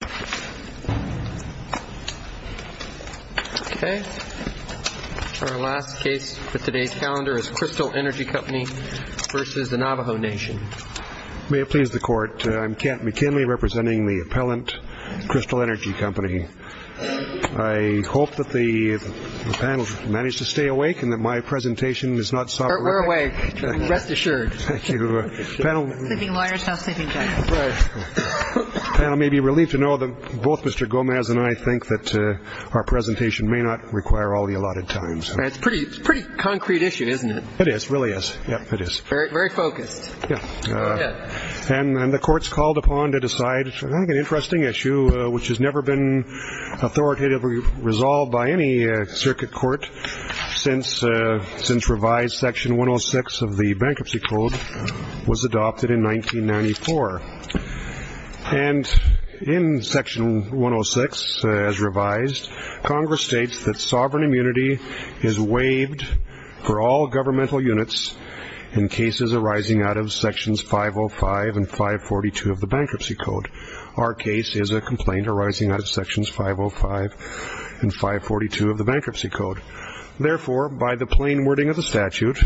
Kent McKinley v. The Appellant, Crystal Energy Company I hope that the panel has managed to stay awake and that my presentation is not sobering. We're awake. Rest assured. Thank you. Sleeping lawyers, not sleeping judges. Right. The panel may be relieved to know that both Mr. Gomez and I think that our presentation may not require all the allotted time. It's a pretty concrete issue, isn't it? It is. It really is. Very focused. And the court's called upon to decide on an interesting issue which has never been authoritatively resolved by any circuit court since revised Section 106 of the Bankruptcy Code was adopted in 1994. And in Section 106 as revised, Congress states that sovereign immunity is waived for all governmental units in cases arising out of Sections 505 and 542 of the Bankruptcy Code. Our case is a complaint arising out of Sections 505 and 542 of the Bankruptcy Code. Therefore, by the plain wording of the statute,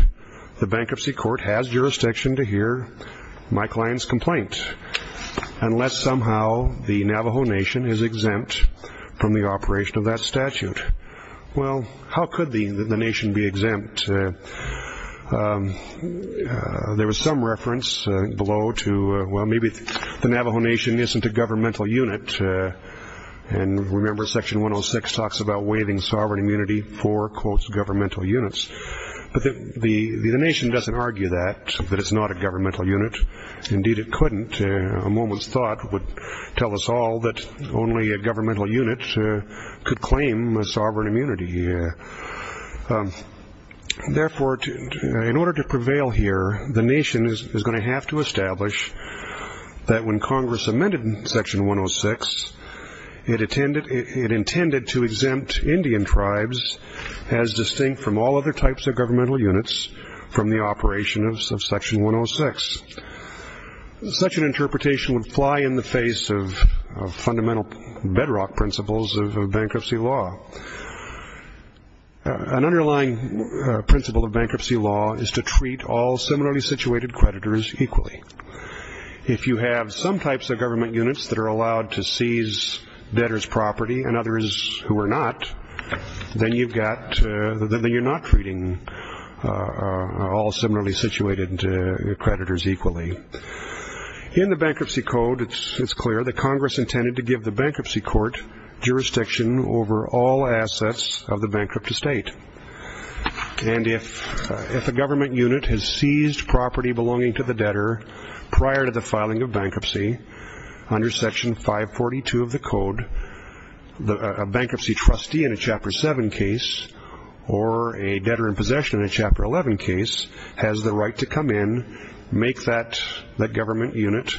the Bankruptcy Court has jurisdiction to hear my client's complaint unless somehow the Navajo Nation is exempt from the operation of that statute. Well, how could the Nation be exempt? There was some reference below to, well, maybe the Navajo Nation isn't a governmental unit. And remember Section 106 talks about waiving sovereign immunity for, quote, governmental units. But the Nation doesn't argue that, that it's not a governmental unit. Indeed, it couldn't. A moment's thought would tell us all that only a governmental unit could claim a sovereign immunity. Therefore, in order to prevail here, the Nation is going to have to establish that when Congress amended Section 106, it intended to exempt Indian tribes as distinct from all other types of governmental units from the operation of Section 106. Such an interpretation would fly in the face of fundamental bedrock principles of bankruptcy law. An underlying principle of bankruptcy law is to treat all similarly situated creditors equally. If you have some types of government units that are allowed to seize debtors' property and others who are not, then you're not treating all similarly situated creditors equally. In the Bankruptcy Code, it's clear that Congress intended to give the bankruptcy court jurisdiction over all assets of the bankrupt estate. And if a government unit has seized property belonging to the debtor prior to the filing of bankruptcy, under Section 542 of the Code, a bankruptcy trustee in a Chapter 7 case or a debtor in possession in a Chapter 11 case has the right to come in, make that government unit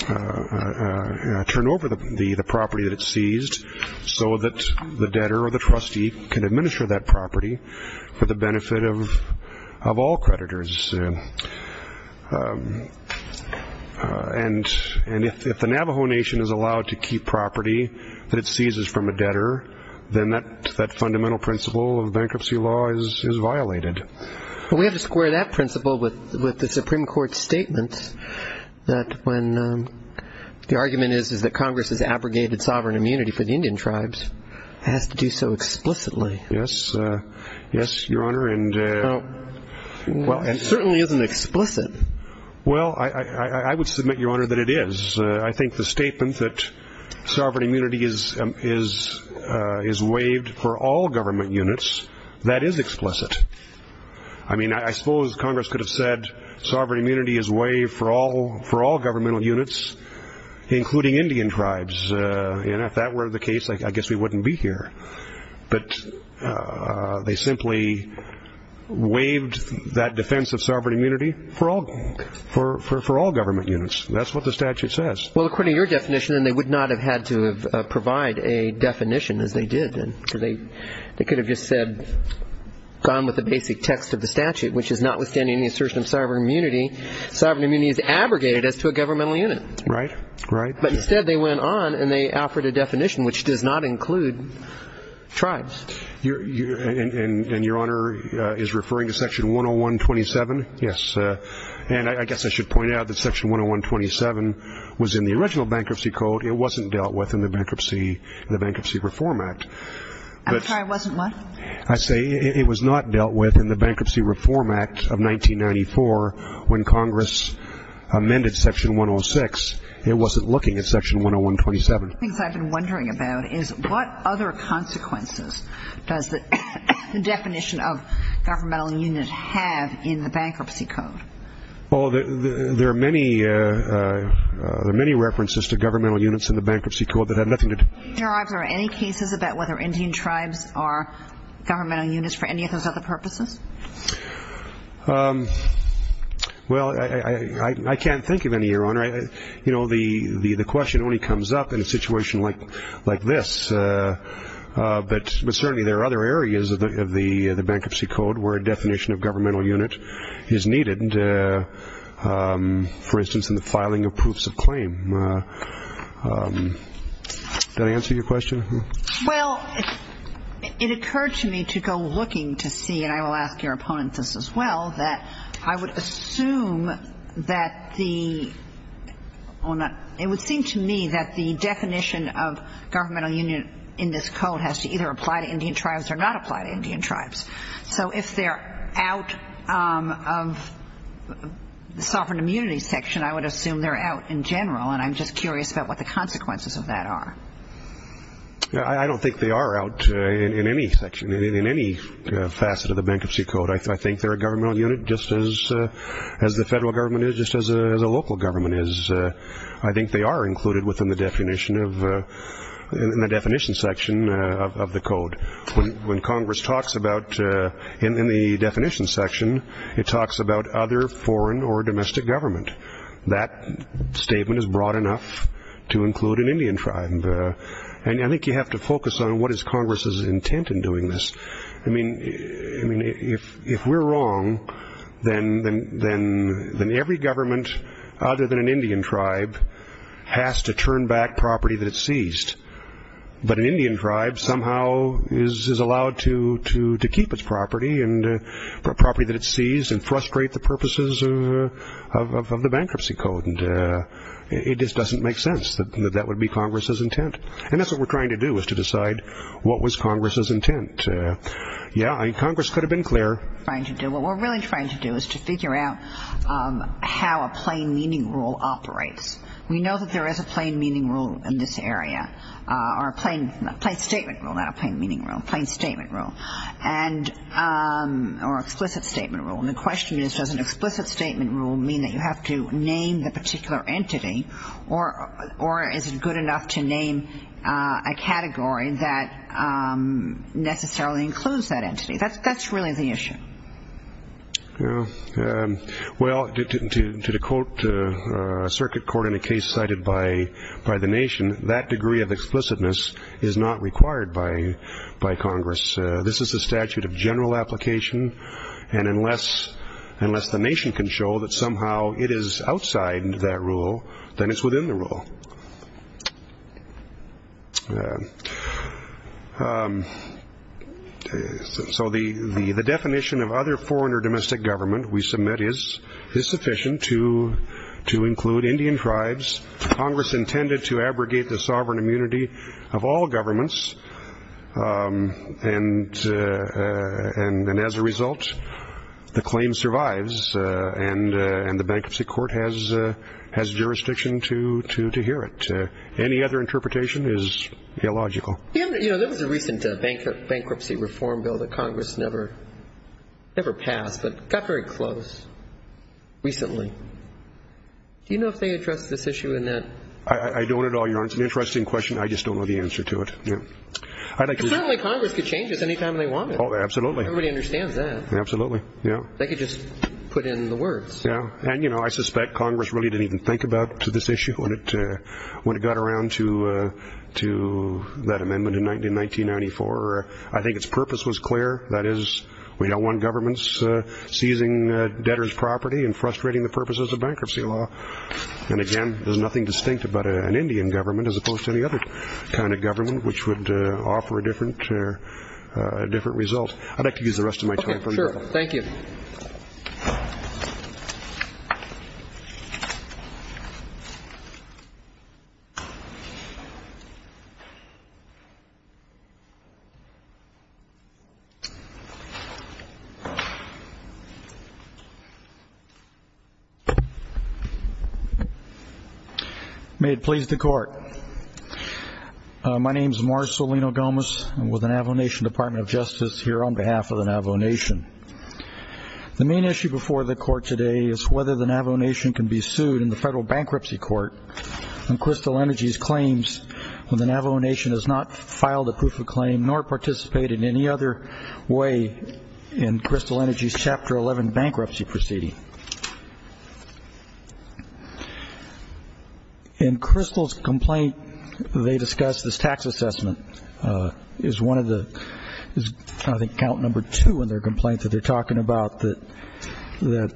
turn over the property that it seized, so that the debtor or the trustee can administer that property for the benefit of all creditors. And if the Navajo Nation is allowed to keep property that it seizes from a debtor, then that fundamental principle of bankruptcy law is violated. We have to square that principle with the Supreme Court's statement that when the argument is that Congress has abrogated sovereign immunity for the Indian tribes, it has to do so explicitly. Yes, Your Honor. And it certainly isn't explicit. Well, I would submit, Your Honor, that it is. I think the statement that sovereign immunity is waived for all government units, that is explicit. I mean, I suppose Congress could have said, sovereign immunity is waived for all governmental units, including Indian tribes. And if that were the case, I guess we wouldn't be here. But they simply waived that defense of sovereign immunity for all government units. That's what the statute says. Well, according to your definition, they would not have had to provide a definition as they did. They could have just said, gone with the basic text of the statute, which is notwithstanding the assertion of sovereign immunity, sovereign immunity is abrogated as to a governmental unit. Right, right. But instead they went on and they offered a definition which does not include tribes. And Your Honor is referring to Section 10127? Yes. And I guess I should point out that Section 10127 was in the original bankruptcy code. It wasn't dealt with in the Bankruptcy Reform Act. I'm sorry, it wasn't what? I say it was not dealt with in the Bankruptcy Reform Act of 1994 when Congress amended Section 106. It wasn't looking at Section 10127. One of the things I've been wondering about is what other consequences does the definition of governmental unit have in the Bankruptcy Code? Well, there are many references to governmental units in the Bankruptcy Code that have nothing to do with it. Your Honor, are there any cases about whether Indian tribes are governmental units for any of those other purposes? Well, I can't think of any, Your Honor. You know, the question only comes up in a situation like this. But certainly there are other areas of the Bankruptcy Code where a definition of governmental unit is needed, for instance, in the filing of proofs of claim. Does that answer your question? Well, it occurred to me to go looking to see, and I will ask your opponents this as well, that I would assume that the – it would seem to me that the definition of governmental unit in this code has to either apply to Indian tribes or not apply to Indian tribes. So if they're out of the sovereign immunity section, I would assume they're out in general, and I'm just curious about what the consequences of that are. I don't think they are out in any section, in any facet of the Bankruptcy Code. I think they're a governmental unit just as the federal government is, just as a local government is. I think they are included within the definition of – in the definition section of the code. When Congress talks about – in the definition section, it talks about other foreign or domestic government. That statement is broad enough to include an Indian tribe. And I think you have to focus on what is Congress's intent in doing this. I mean, if we're wrong, then every government other than an Indian tribe has to turn back property that it seized. But an Indian tribe somehow is allowed to keep its property, property that it seized, and frustrate the purposes of the Bankruptcy Code. It just doesn't make sense that that would be Congress's intent. And that's what we're trying to do, is to decide what was Congress's intent. Yeah, Congress could have been clearer. What we're really trying to do is to figure out how a plain meaning rule operates. We know that there is a plain meaning rule in this area, or a plain statement rule, not a plain meaning rule. A plain statement rule, or explicit statement rule. And the question is, does an explicit statement rule mean that you have to name the particular entity, or is it good enough to name a category that necessarily includes that entity? That's really the issue. Well, to quote a circuit court in a case cited by The Nation, that degree of explicitness is not required by Congress. This is a statute of general application, and unless The Nation can show that somehow it is outside that rule, then it's within the rule. So the definition of other foreign or domestic government we submit is sufficient to include Indian tribes, Congress intended to abrogate the sovereign immunity of all governments, and as a result the claim survives and the bankruptcy court has jurisdiction to hear it. Any other interpretation is illogical. There was a recent bankruptcy reform bill that Congress never passed, but got very close recently. Do you know if they addressed this issue in that? I don't at all, Your Honor. It's an interesting question. I just don't know the answer to it. Certainly Congress could change this any time they wanted. Oh, absolutely. Everybody understands that. Absolutely. They could just put in the words. Yeah. And, you know, I suspect Congress really didn't even think about this issue when it got around to that amendment in 1994. I think its purpose was clear. That is, we don't want governments seizing debtors' property and frustrating the purposes of bankruptcy law. And, again, there's nothing distinct about an Indian government as opposed to any other kind of government, which would offer a different result. I'd like to use the rest of my time. Okay, sure. Thank you. Thank you. May it please the Court. My name is Marcellino Gomez. I'm with the Navajo Nation Department of Justice here on behalf of the Navajo Nation. The main issue before the Court today is whether the Navajo Nation can be sued in the federal bankruptcy court on Crystal Energy's claims when the Navajo Nation has not filed a proof of claim nor participated in any other way in Crystal Energy's Chapter 11 bankruptcy proceeding. In Crystal's complaint, they discussed this tax assessment. It was one of the, I think, count number two in their complaint that they're talking about, that they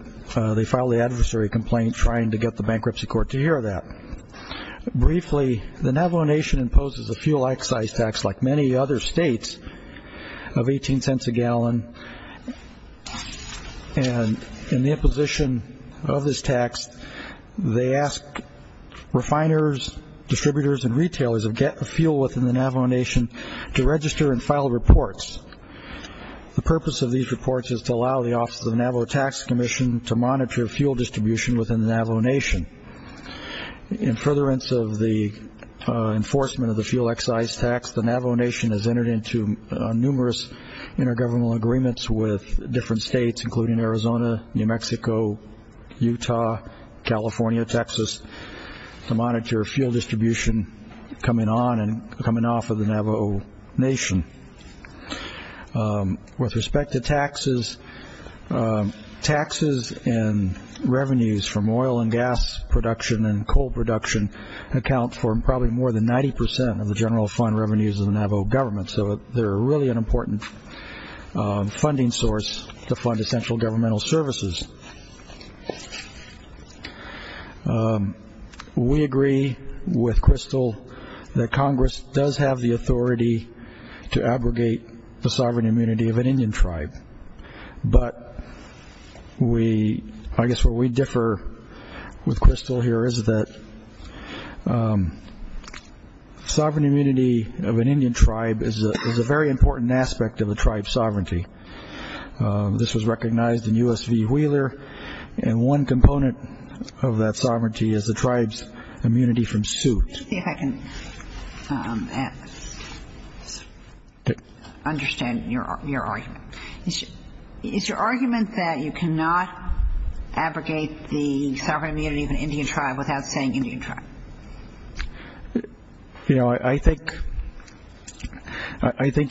filed the adversary complaint trying to get the bankruptcy court to hear that. Briefly, the Navajo Nation imposes a fuel excise tax, like many other states, of $0.18 a gallon. And in the imposition of this tax, they ask refiners, distributors, and retailers to get the fuel within the Navajo Nation to register and file reports. The purpose of these reports is to allow the Office of the Navajo Tax Commission to monitor fuel distribution within the Navajo Nation. In furtherance of the enforcement of the fuel excise tax, the Navajo Nation has entered into numerous intergovernmental agreements with different states, including Arizona, New Mexico, Utah, California, Texas, to monitor fuel distribution coming on and coming off of the Navajo Nation. With respect to taxes, taxes and revenues from oil and gas production and coal production account for probably more than 90% of the general fund revenues of the Navajo government. So they're really an important funding source to fund essential governmental services. We agree with Crystal that Congress does have the authority to abrogate the sovereign immunity of an Indian tribe, but I guess where we differ with Crystal here is that sovereign immunity of an Indian tribe is a very important aspect of the tribe's sovereignty. This was recognized in U.S. v. Wheeler, and one component of that sovereignty is the tribe's immunity from suit. Let me see if I can understand your argument. Is your argument that you cannot abrogate the sovereign immunity of an Indian tribe without saying Indian tribe? You know, I think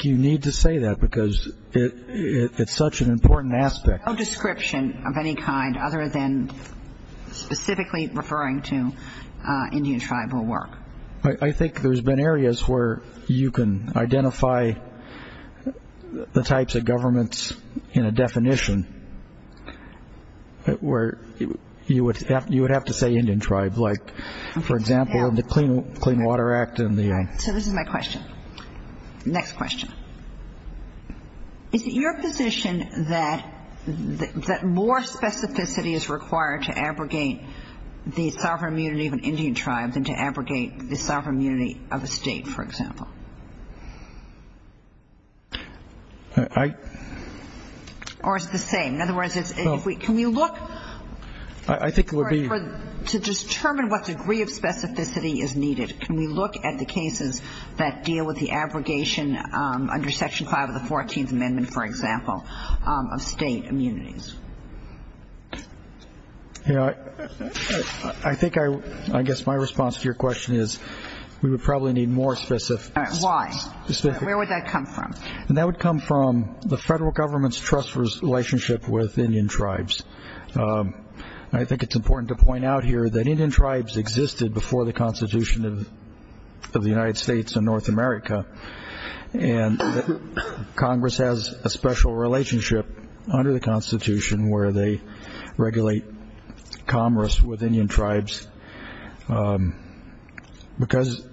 you need to say that because it's such an important aspect. No description of any kind other than specifically referring to Indian tribal work. I think there's been areas where you can identify the types of governments in a definition where you would have to say Indian tribe, like, for example, the Clean Water Act. So this is my question. Next question. Is it your position that more specificity is required to abrogate the sovereign immunity of an Indian tribe than to abrogate the sovereign immunity of a state, for example? Or is it the same? In other words, can we look to determine what degree of specificity is needed? Can we look at the cases that deal with the abrogation under Section 5 of the 14th Amendment, for example, of state immunities? I think I guess my response to your question is we would probably need more specificity. Why? Where would that come from? That would come from the federal government's trust relationship with Indian tribes. I think it's important to point out here that Indian tribes existed before the Constitution of the United States and North America, and Congress has a special relationship under the Constitution where they regulate commerce with Indian tribes. Because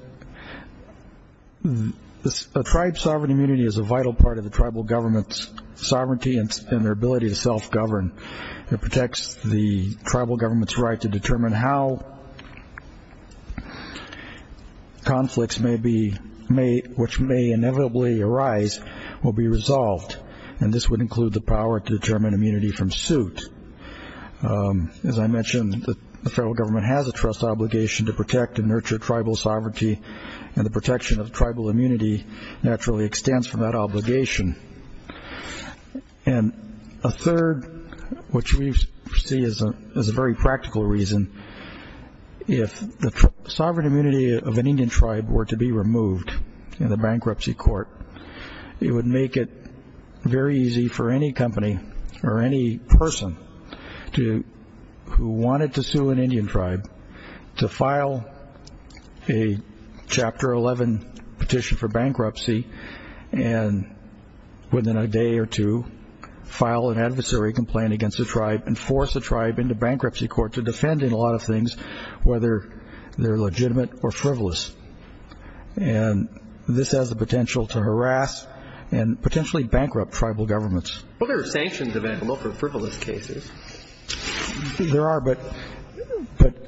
a tribe's sovereign immunity is a vital part of the tribal government's sovereignty and their ability to self-govern. It protects the tribal government's right to determine how conflicts which may inevitably arise will be resolved, and this would include the power to determine immunity from suit. As I mentioned, the federal government has a trust obligation to protect and nurture tribal sovereignty, and the protection of tribal immunity naturally extends from that obligation. And a third, which we see as a very practical reason, if the sovereign immunity of an Indian tribe were to be removed in the bankruptcy court, it would make it very easy for any company or any person who wanted to sue an Indian tribe to file a Chapter 11 petition for bankruptcy and within a day or two file an adversary complaint against the tribe and force the tribe into bankruptcy court to defend in a lot of things whether they're legitimate or frivolous. And this has the potential to harass and potentially bankrupt tribal governments. Well, there are sanctions available for frivolous cases. There are, but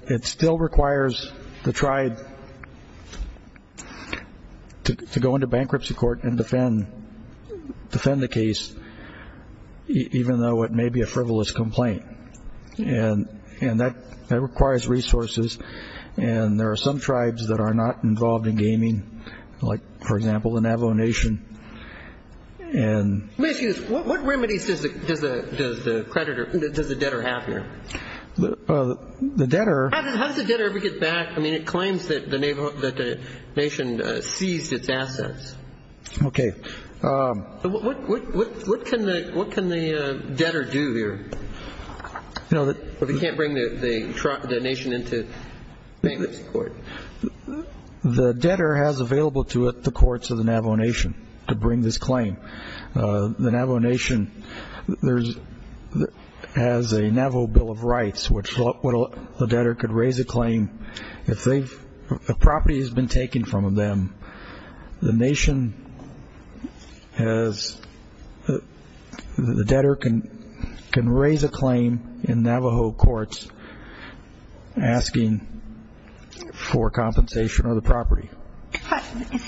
it still requires the tribe to go into bankruptcy court and defend the case, even though it may be a frivolous complaint. And that requires resources, and there are some tribes that are not involved in gaming, like, for example, the Navajo Nation. Excuse me. What remedies does the debtor have here? The debtor? How does the debtor ever get back? I mean, it claims that the nation seized its assets. Okay. What can the debtor do here if he can't bring the nation into bankruptcy court? The debtor has available to it the courts of the Navajo Nation to bring this claim. The Navajo Nation has a Navajo Bill of Rights, which the debtor could raise a claim. If property has been taken from them, the nation has the debtor can raise a claim in Navajo courts asking for compensation of the property. Isn't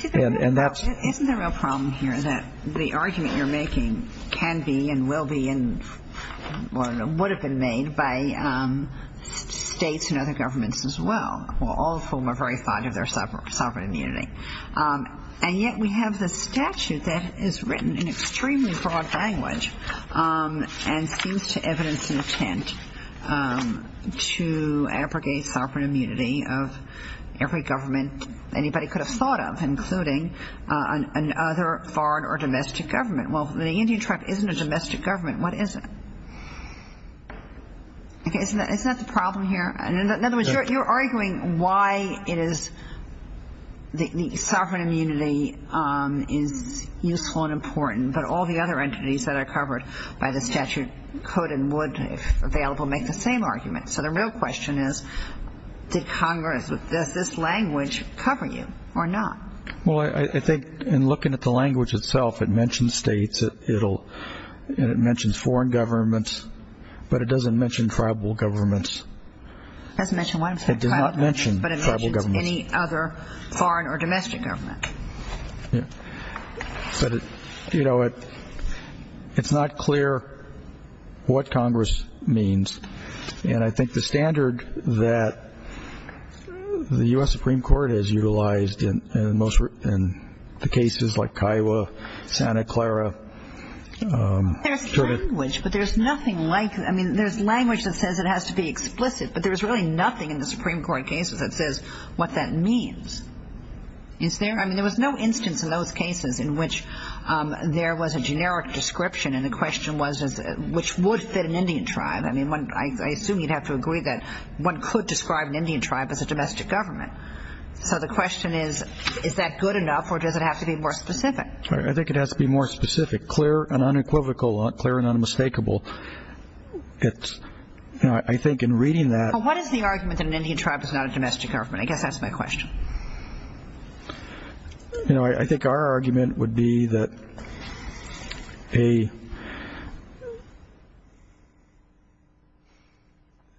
the real problem here that the argument you're making can be and will be and would have been made by states and other governments as well, all of whom are very fond of their sovereign immunity. And yet we have this statute that is written in extremely broad language and seems to evidence an intent to abrogate sovereign immunity of every government anybody could have thought of, including another foreign or domestic government. Well, the Indian tribe isn't a domestic government. What is it? Isn't that the problem here? In other words, you're arguing why it is the sovereign immunity is useful and important, but all the other entities that are covered by the statute could and would, if available, make the same argument. So the real question is, did Congress, does this language cover you or not? Well, I think in looking at the language itself, it mentions states, and it mentions foreign governments, but it doesn't mention tribal governments. It doesn't mention one. It does not mention tribal governments. But it mentions any other foreign or domestic government. But, you know, it's not clear what Congress means. And I think the standard that the U.S. Supreme Court has utilized in the cases like Kiowa, Santa Clara. There's language, but there's nothing like it. I mean, there's language that says it has to be explicit, but there's really nothing in the Supreme Court cases that says what that means. I mean, there was no instance in those cases in which there was a generic description, and the question was which would fit an Indian tribe. I mean, I assume you'd have to agree that one could describe an Indian tribe as a domestic government. So the question is, is that good enough or does it have to be more specific? I think it has to be more specific, clear and unequivocal, clear and unmistakable. I think in reading that. Well, what is the argument that an Indian tribe is not a domestic government? I guess that's my question. You know, I think our argument would be that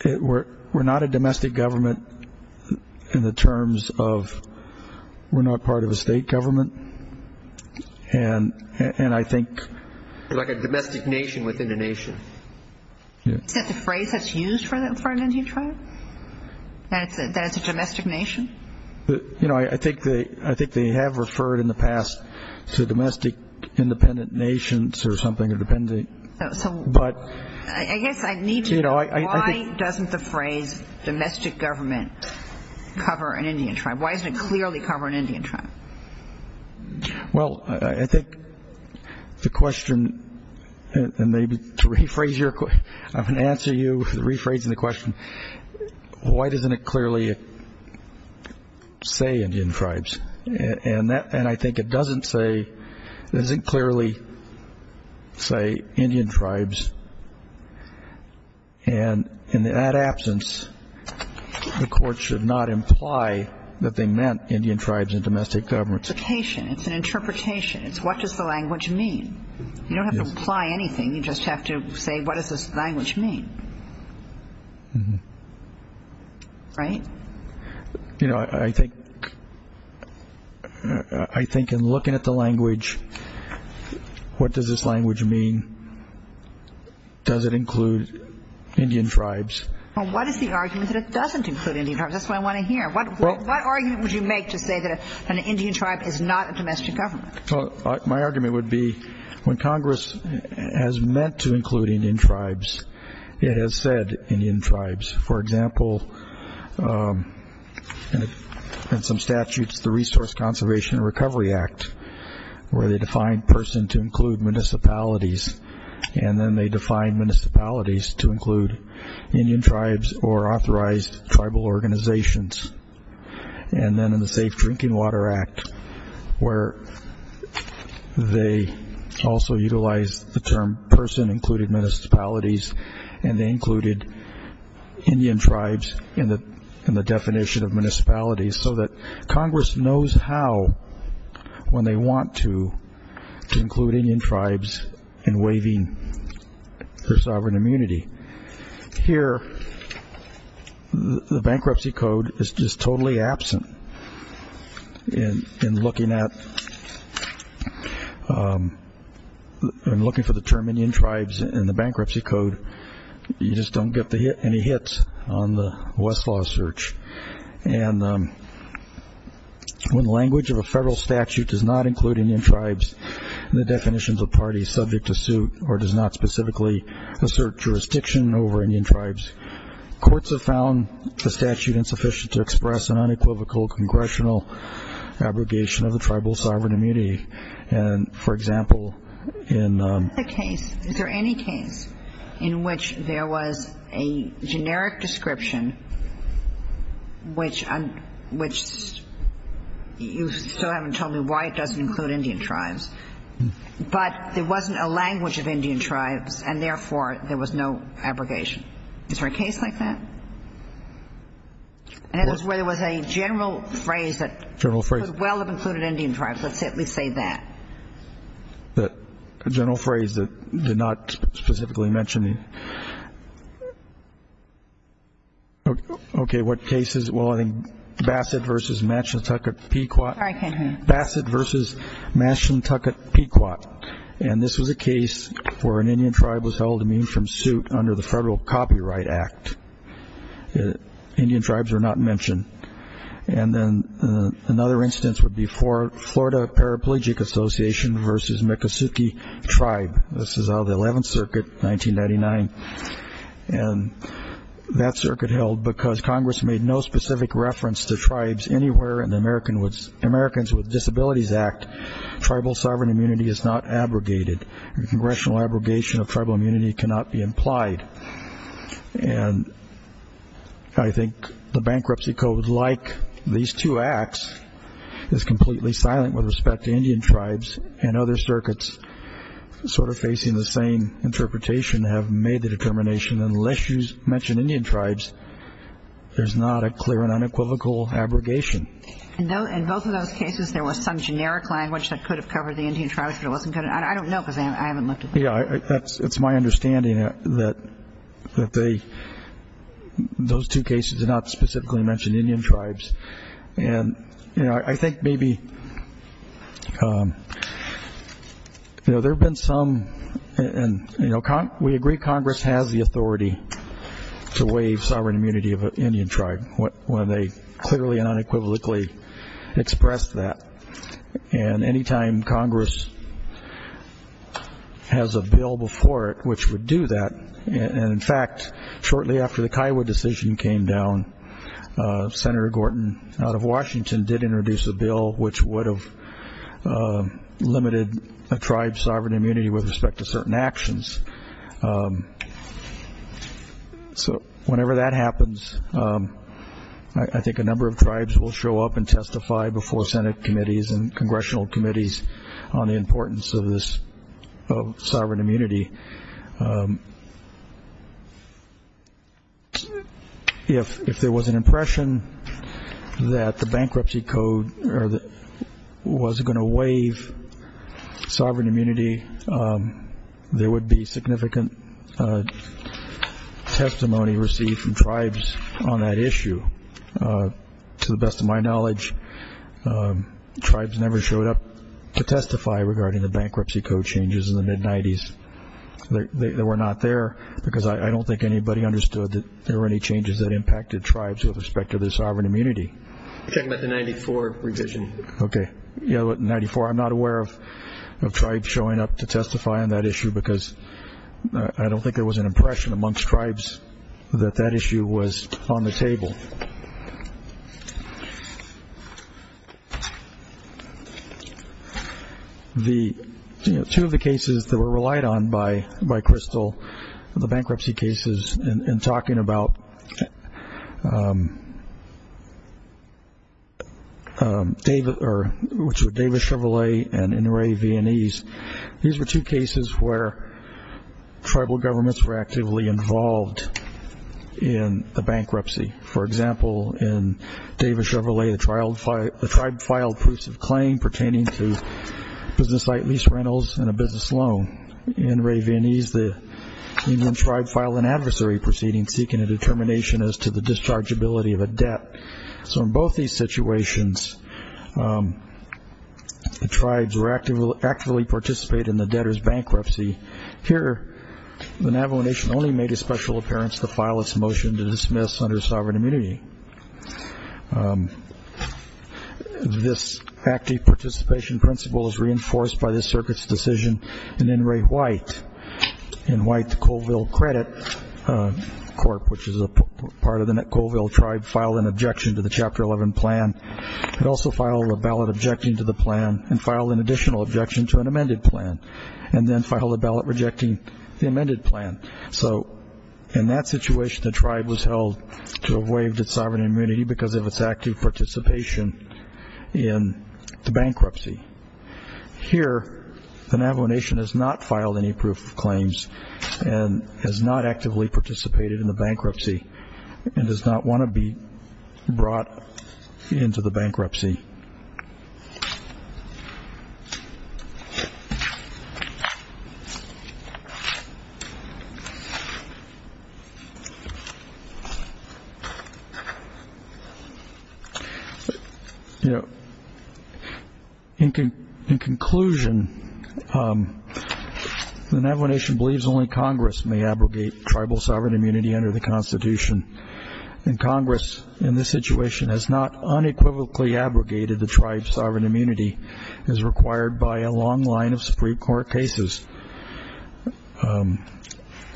we're not a domestic government in the terms of we're not part of a state government. And I think. Like a domestic nation within a nation. Is that the phrase that's used for an Indian tribe? That it's a domestic nation? You know, I think they have referred in the past to domestic independent nations or something. I guess I need to know, why doesn't the phrase domestic government cover an Indian tribe? Why doesn't it clearly cover an Indian tribe? Well, I think the question, and maybe to rephrase your question. I'm going to answer you, rephrasing the question. Why doesn't it clearly say Indian tribes? And I think it doesn't say, it doesn't clearly say Indian tribes. And in that absence, the Court should not imply that they meant Indian tribes and domestic governments. It's an interpretation. It's what does the language mean? You don't have to imply anything. You just have to say what does this language mean. Right? You know, I think in looking at the language, what does this language mean? Does it include Indian tribes? Well, what is the argument that it doesn't include Indian tribes? That's what I want to hear. What argument would you make to say that an Indian tribe is not a domestic government? My argument would be when Congress has meant to include Indian tribes, it has said Indian tribes. For example, in some statutes, the Resource Conservation and Recovery Act, where they define person to include municipalities, and then they define municipalities to include Indian tribes or authorized tribal organizations. And then in the Safe Drinking Water Act, where they also utilize the term person included municipalities, and they included Indian tribes in the definition of municipalities, so that Congress knows how, when they want to, to include Indian tribes in waiving their sovereign immunity. Here, the bankruptcy code is just totally absent. In looking for the term Indian tribes in the bankruptcy code, you just don't get any hits on the Westlaw search. And when language of a federal statute does not include Indian tribes, and the definitions of parties subject to suit, or does not specifically assert jurisdiction over Indian tribes, courts have found the statute insufficient to express an unequivocal congressional abrogation of the tribal sovereign immunity. And, for example, in the case, is there any case in which there was a generic description, which you still haven't told me why it doesn't include Indian tribes, but there wasn't a language of Indian tribes, and, therefore, there was no abrogation. Is there a case like that? And it was where there was a general phrase that could well have included Indian tribes. Let's at least say that. The general phrase that did not specifically mention it. Okay, what cases? Well, I think Bassett v. Mashantucket Pequot. Sorry, Ken. Bassett v. Mashantucket Pequot. And this was a case where an Indian tribe was held immune from suit under the Federal Copyright Act. Indian tribes were not mentioned. And then another instance would be Florida Paraplegic Association v. Miccosukee Tribe. This is out of the 11th Circuit, 1999. And that circuit held because Congress made no specific reference to tribes anywhere in the Americans with Disabilities Act. Tribal sovereign immunity is not abrogated. A congressional abrogation of tribal immunity cannot be implied. And I think the bankruptcy code, like these two acts, is completely silent with respect to Indian tribes. And other circuits sort of facing the same interpretation have made the determination, unless you mention Indian tribes, there's not a clear and unequivocal abrogation. In both of those cases, there was some generic language that could have covered the Indian tribes, but it wasn't going to. I don't know because I haven't looked at them. Yeah, it's my understanding that those two cases did not specifically mention Indian tribes. And, you know, I think maybe, you know, there have been some, and we agree Congress has the authority to waive sovereign immunity of an Indian tribe when they clearly and unequivocally express that. And any time Congress has a bill before it which would do that, and, in fact, shortly after the Kiowa decision came down, Senator Gorton out of Washington did introduce a bill which would have limited a tribe's sovereign immunity with respect to certain actions. So whenever that happens, I think a number of tribes will show up and testify before Senate committees and congressional committees on the importance of this sovereign immunity. If there was an impression that the bankruptcy code was going to waive sovereign immunity, there would be significant testimony received from tribes on that issue. To the best of my knowledge, tribes never showed up to testify regarding the bankruptcy code changes in the mid-90s. They were not there because I don't think anybody understood that there were any changes that impacted tribes with respect to their sovereign immunity. You're talking about the 94 revision. Okay. Yeah, 94. I'm not aware of tribes showing up to testify on that issue because I don't think there was an impression amongst tribes that that issue was on the table. Two of the cases that were relied on by Crystal, the bankruptcy cases, and talking about which were Davis Chevrolet and Inouye Viennese, these were two cases where tribal governments were actively involved in the bankruptcy. For example, in Davis Chevrolet, the tribe filed proofs of claim pertaining to business site lease rentals and a business loan. In Ray Viennese, the Indian tribe filed an adversary proceeding seeking a determination as to the dischargeability of a debt. So in both these situations, the tribes were actively participating in the debtor's bankruptcy. Here, the Navajo Nation only made a special appearance to file its motion to dismiss under sovereign immunity. This active participation principle is reinforced by the circuit's decision in Inouye White. In White, the Colville Credit Corp., which is a part of the Colville tribe, filed an objection to the Chapter 11 plan. It also filed a ballot objecting to the plan and filed an additional objection to an amended plan and then filed a ballot rejecting the amended plan. So in that situation, the tribe was held to have waived its sovereign immunity because of its active participation in the bankruptcy. Here, the Navajo Nation has not filed any proof of claims and has not actively participated in the bankruptcy and does not want to be brought into the bankruptcy. In conclusion, the Navajo Nation believes only Congress may abrogate tribal sovereign immunity under the Constitution. And Congress, in this situation, has not unequivocally abrogated tribal sovereign immunity. The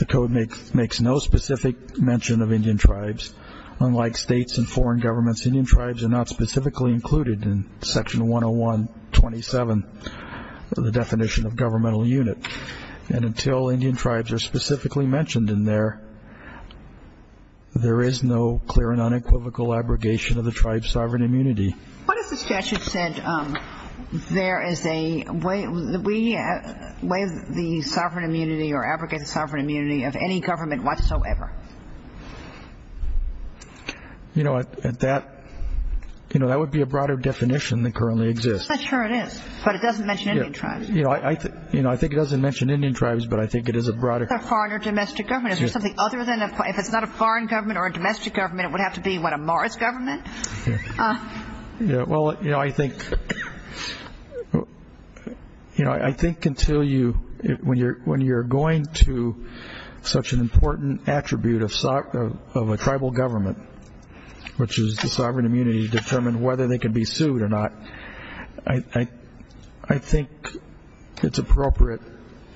code makes no specific mention of Indian tribes. Unlike states and foreign governments, Indian tribes are not specifically included in Section 101.27, the definition of governmental unit. And until Indian tribes are specifically mentioned in there, there is no clear and unequivocal abrogation of the tribe's sovereign immunity. What if the statute said there is a way of the sovereign immunity or abrogated sovereign immunity of any government whatsoever? You know, that would be a broader definition than currently exists. I'm not sure it is, but it doesn't mention Indian tribes. I think it doesn't mention Indian tribes, but I think it is a broader definition. If it's not a foreign government or a domestic government, then it would have to be, what, a Morris government? Well, you know, I think until you're going to such an important attribute of a tribal government, which is the sovereign immunity to determine whether they can be sued or not, I think it's appropriate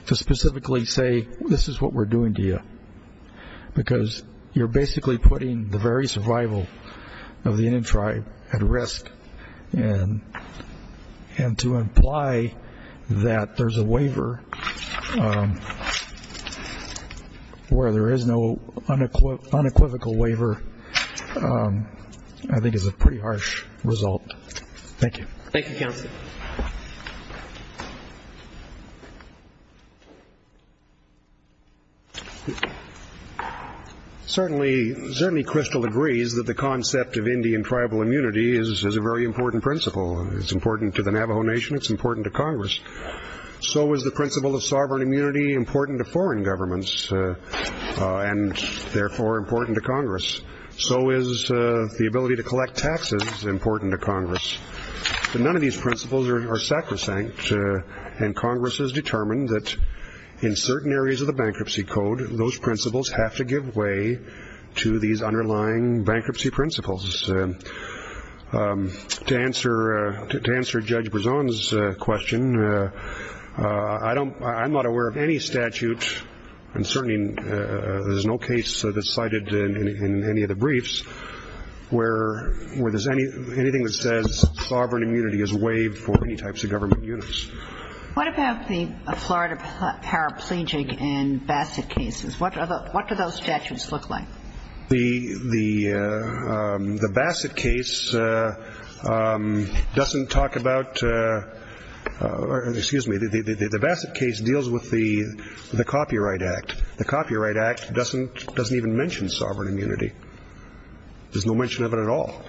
to specifically say this is what we're doing to you, because you're basically putting the very survival of the Indian tribe at risk. And to imply that there's a waiver where there is no unequivocal waiver I think is a pretty harsh result. Thank you. Thank you, Counsel. Certainly Crystal agrees that the concept of Indian tribal immunity is a very important principle. It's important to the Navajo Nation. It's important to Congress. So is the principle of sovereign immunity important to foreign governments and therefore important to Congress? So is the ability to collect taxes important to Congress? But none of these principles are sacrosanct, and Congress has determined that in certain areas of the Bankruptcy Code, those principles have to give way to these underlying bankruptcy principles. To answer Judge Brisson's question, I'm not aware of any statute, and certainly there's no case that's cited in any of the briefs where there's anything that says sovereign immunity is waived for any types of government units. What about the Florida paraplegic and Bassett cases? What do those statutes look like? The Bassett case deals with the Copyright Act. The Copyright Act doesn't even mention sovereign immunity. There's no mention of it at all.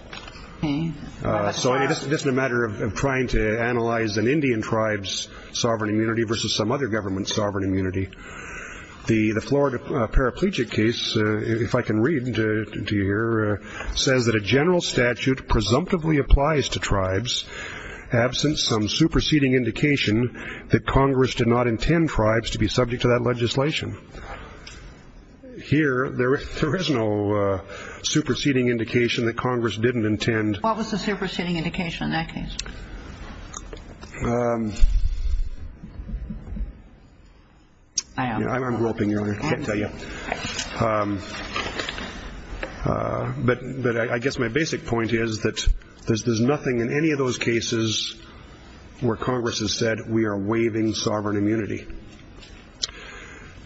So it's just a matter of trying to analyze an Indian tribe's sovereign immunity versus some other government's sovereign immunity. The Florida paraplegic case, if I can read it to you here, says that a general statute presumptively applies to tribes absent some superseding indication that Congress did not intend tribes to be subject to that legislation. Here, there is no superseding indication that Congress didn't intend. What was the superseding indication in that case? I'm groping here. I can't tell you. But I guess my basic point is that there's nothing in any of those cases where Congress has said we are waiving sovereign immunity.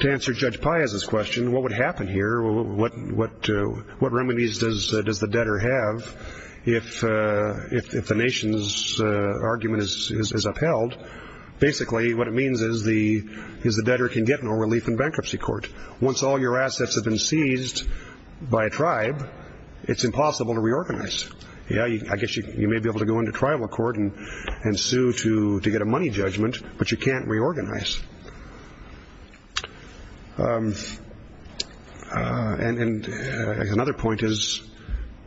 To answer Judge Piazza's question, what would happen here? What remedies does the debtor have if the nation's argument is upheld? Basically, what it means is the debtor can get no relief in bankruptcy court. Once all your assets have been seized by a tribe, it's impossible to reorganize. I guess you may be able to go into tribal court and sue to get a money judgment, but you can't reorganize. And another point is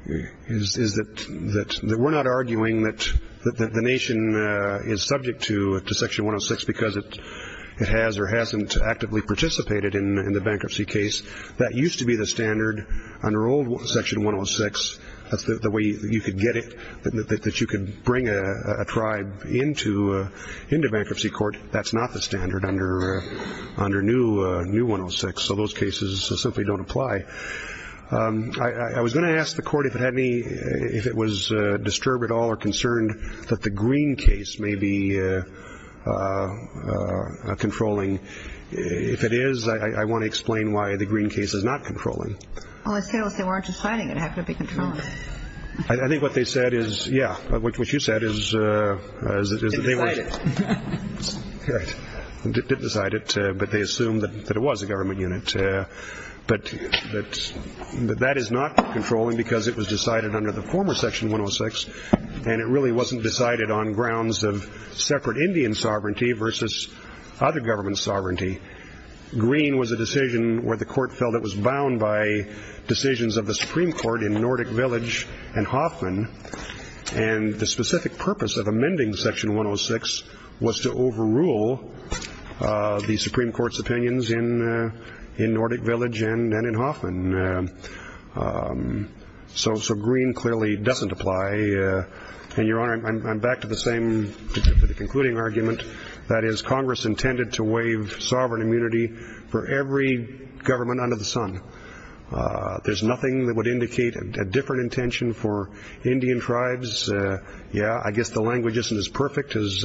that we're not arguing that the nation is subject to Section 106 because it has or hasn't actively participated in the bankruptcy case. That used to be the standard under old Section 106. That's the way you could get it, that you could bring a tribe into bankruptcy court. That's not the standard under new 106, so those cases simply don't apply. I was going to ask the Court if it was disturbed at all or concerned that the Green case may be controlling. If it is, I want to explain why the Green case is not controlling. Well, if they weren't deciding, it would have to be controlling. I think what they said is, yeah, what you said is that they were... Didn't decide it. Right, didn't decide it, but they assumed that it was a government unit. But that is not controlling because it was decided under the former Section 106, and it really wasn't decided on grounds of separate Indian sovereignty versus other governments' sovereignty. Green was a decision where the Court felt it was bound by decisions of the Supreme Court in Nordic Village and Hoffman, and the specific purpose of amending Section 106 was to overrule the Supreme Court's opinions in Nordic Village and in Hoffman. So Green clearly doesn't apply. And, Your Honor, I'm back to the same concluding argument, that is, Congress intended to waive sovereign immunity for every government under the sun. There's nothing that would indicate a different intention for Indian tribes. Yeah, I guess the language isn't as perfect as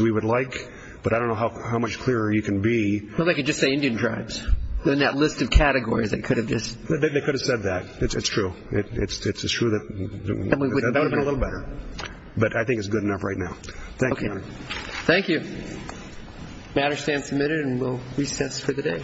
we would like, but I don't know how much clearer you can be. Well, they could just say Indian tribes. In that list of categories, they could have just... They could have said that. It's true. It's true that... That would have been a little better. But I think it's good enough right now. Thank you, Your Honor. Thank you. The matter stands submitted, and we'll recess for the day.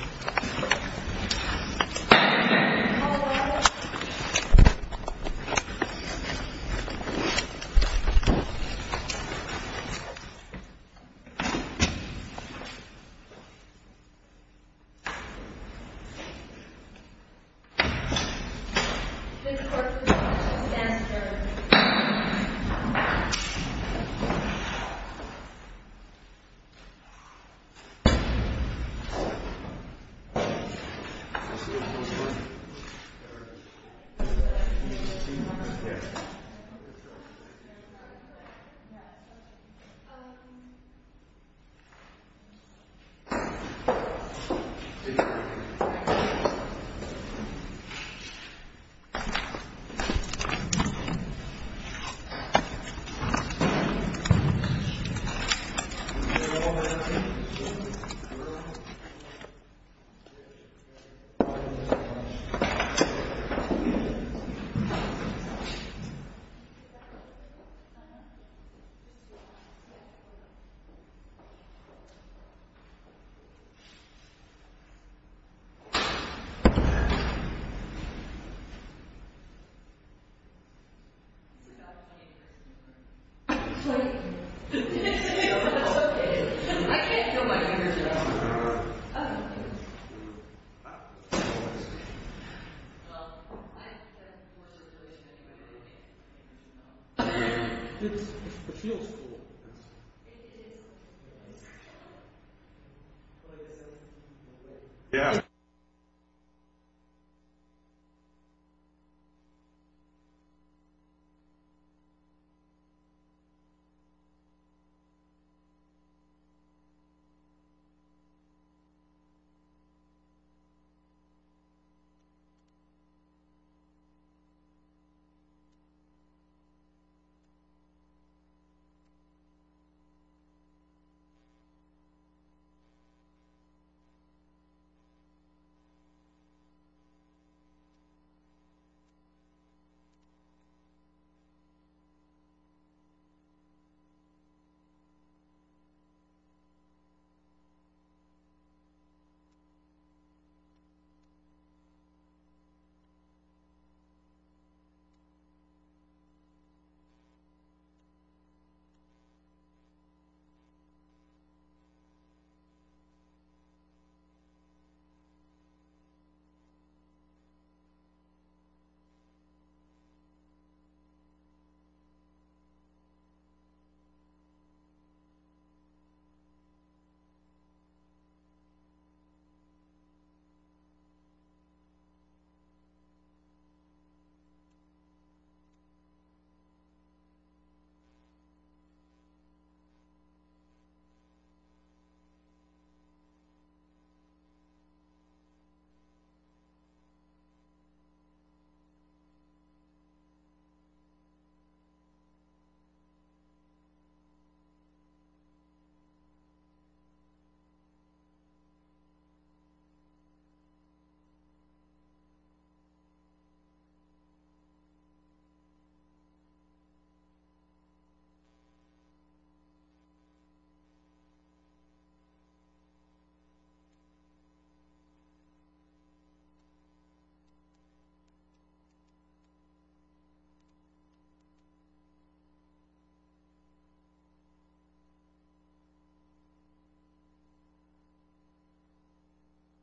Thank you, Your Honor. Thank you, Your Honor. Thank you. Thank you, Your Honor. Thank you. Yes. Thank you. Thank you. Thank you. Thank you. Thank you.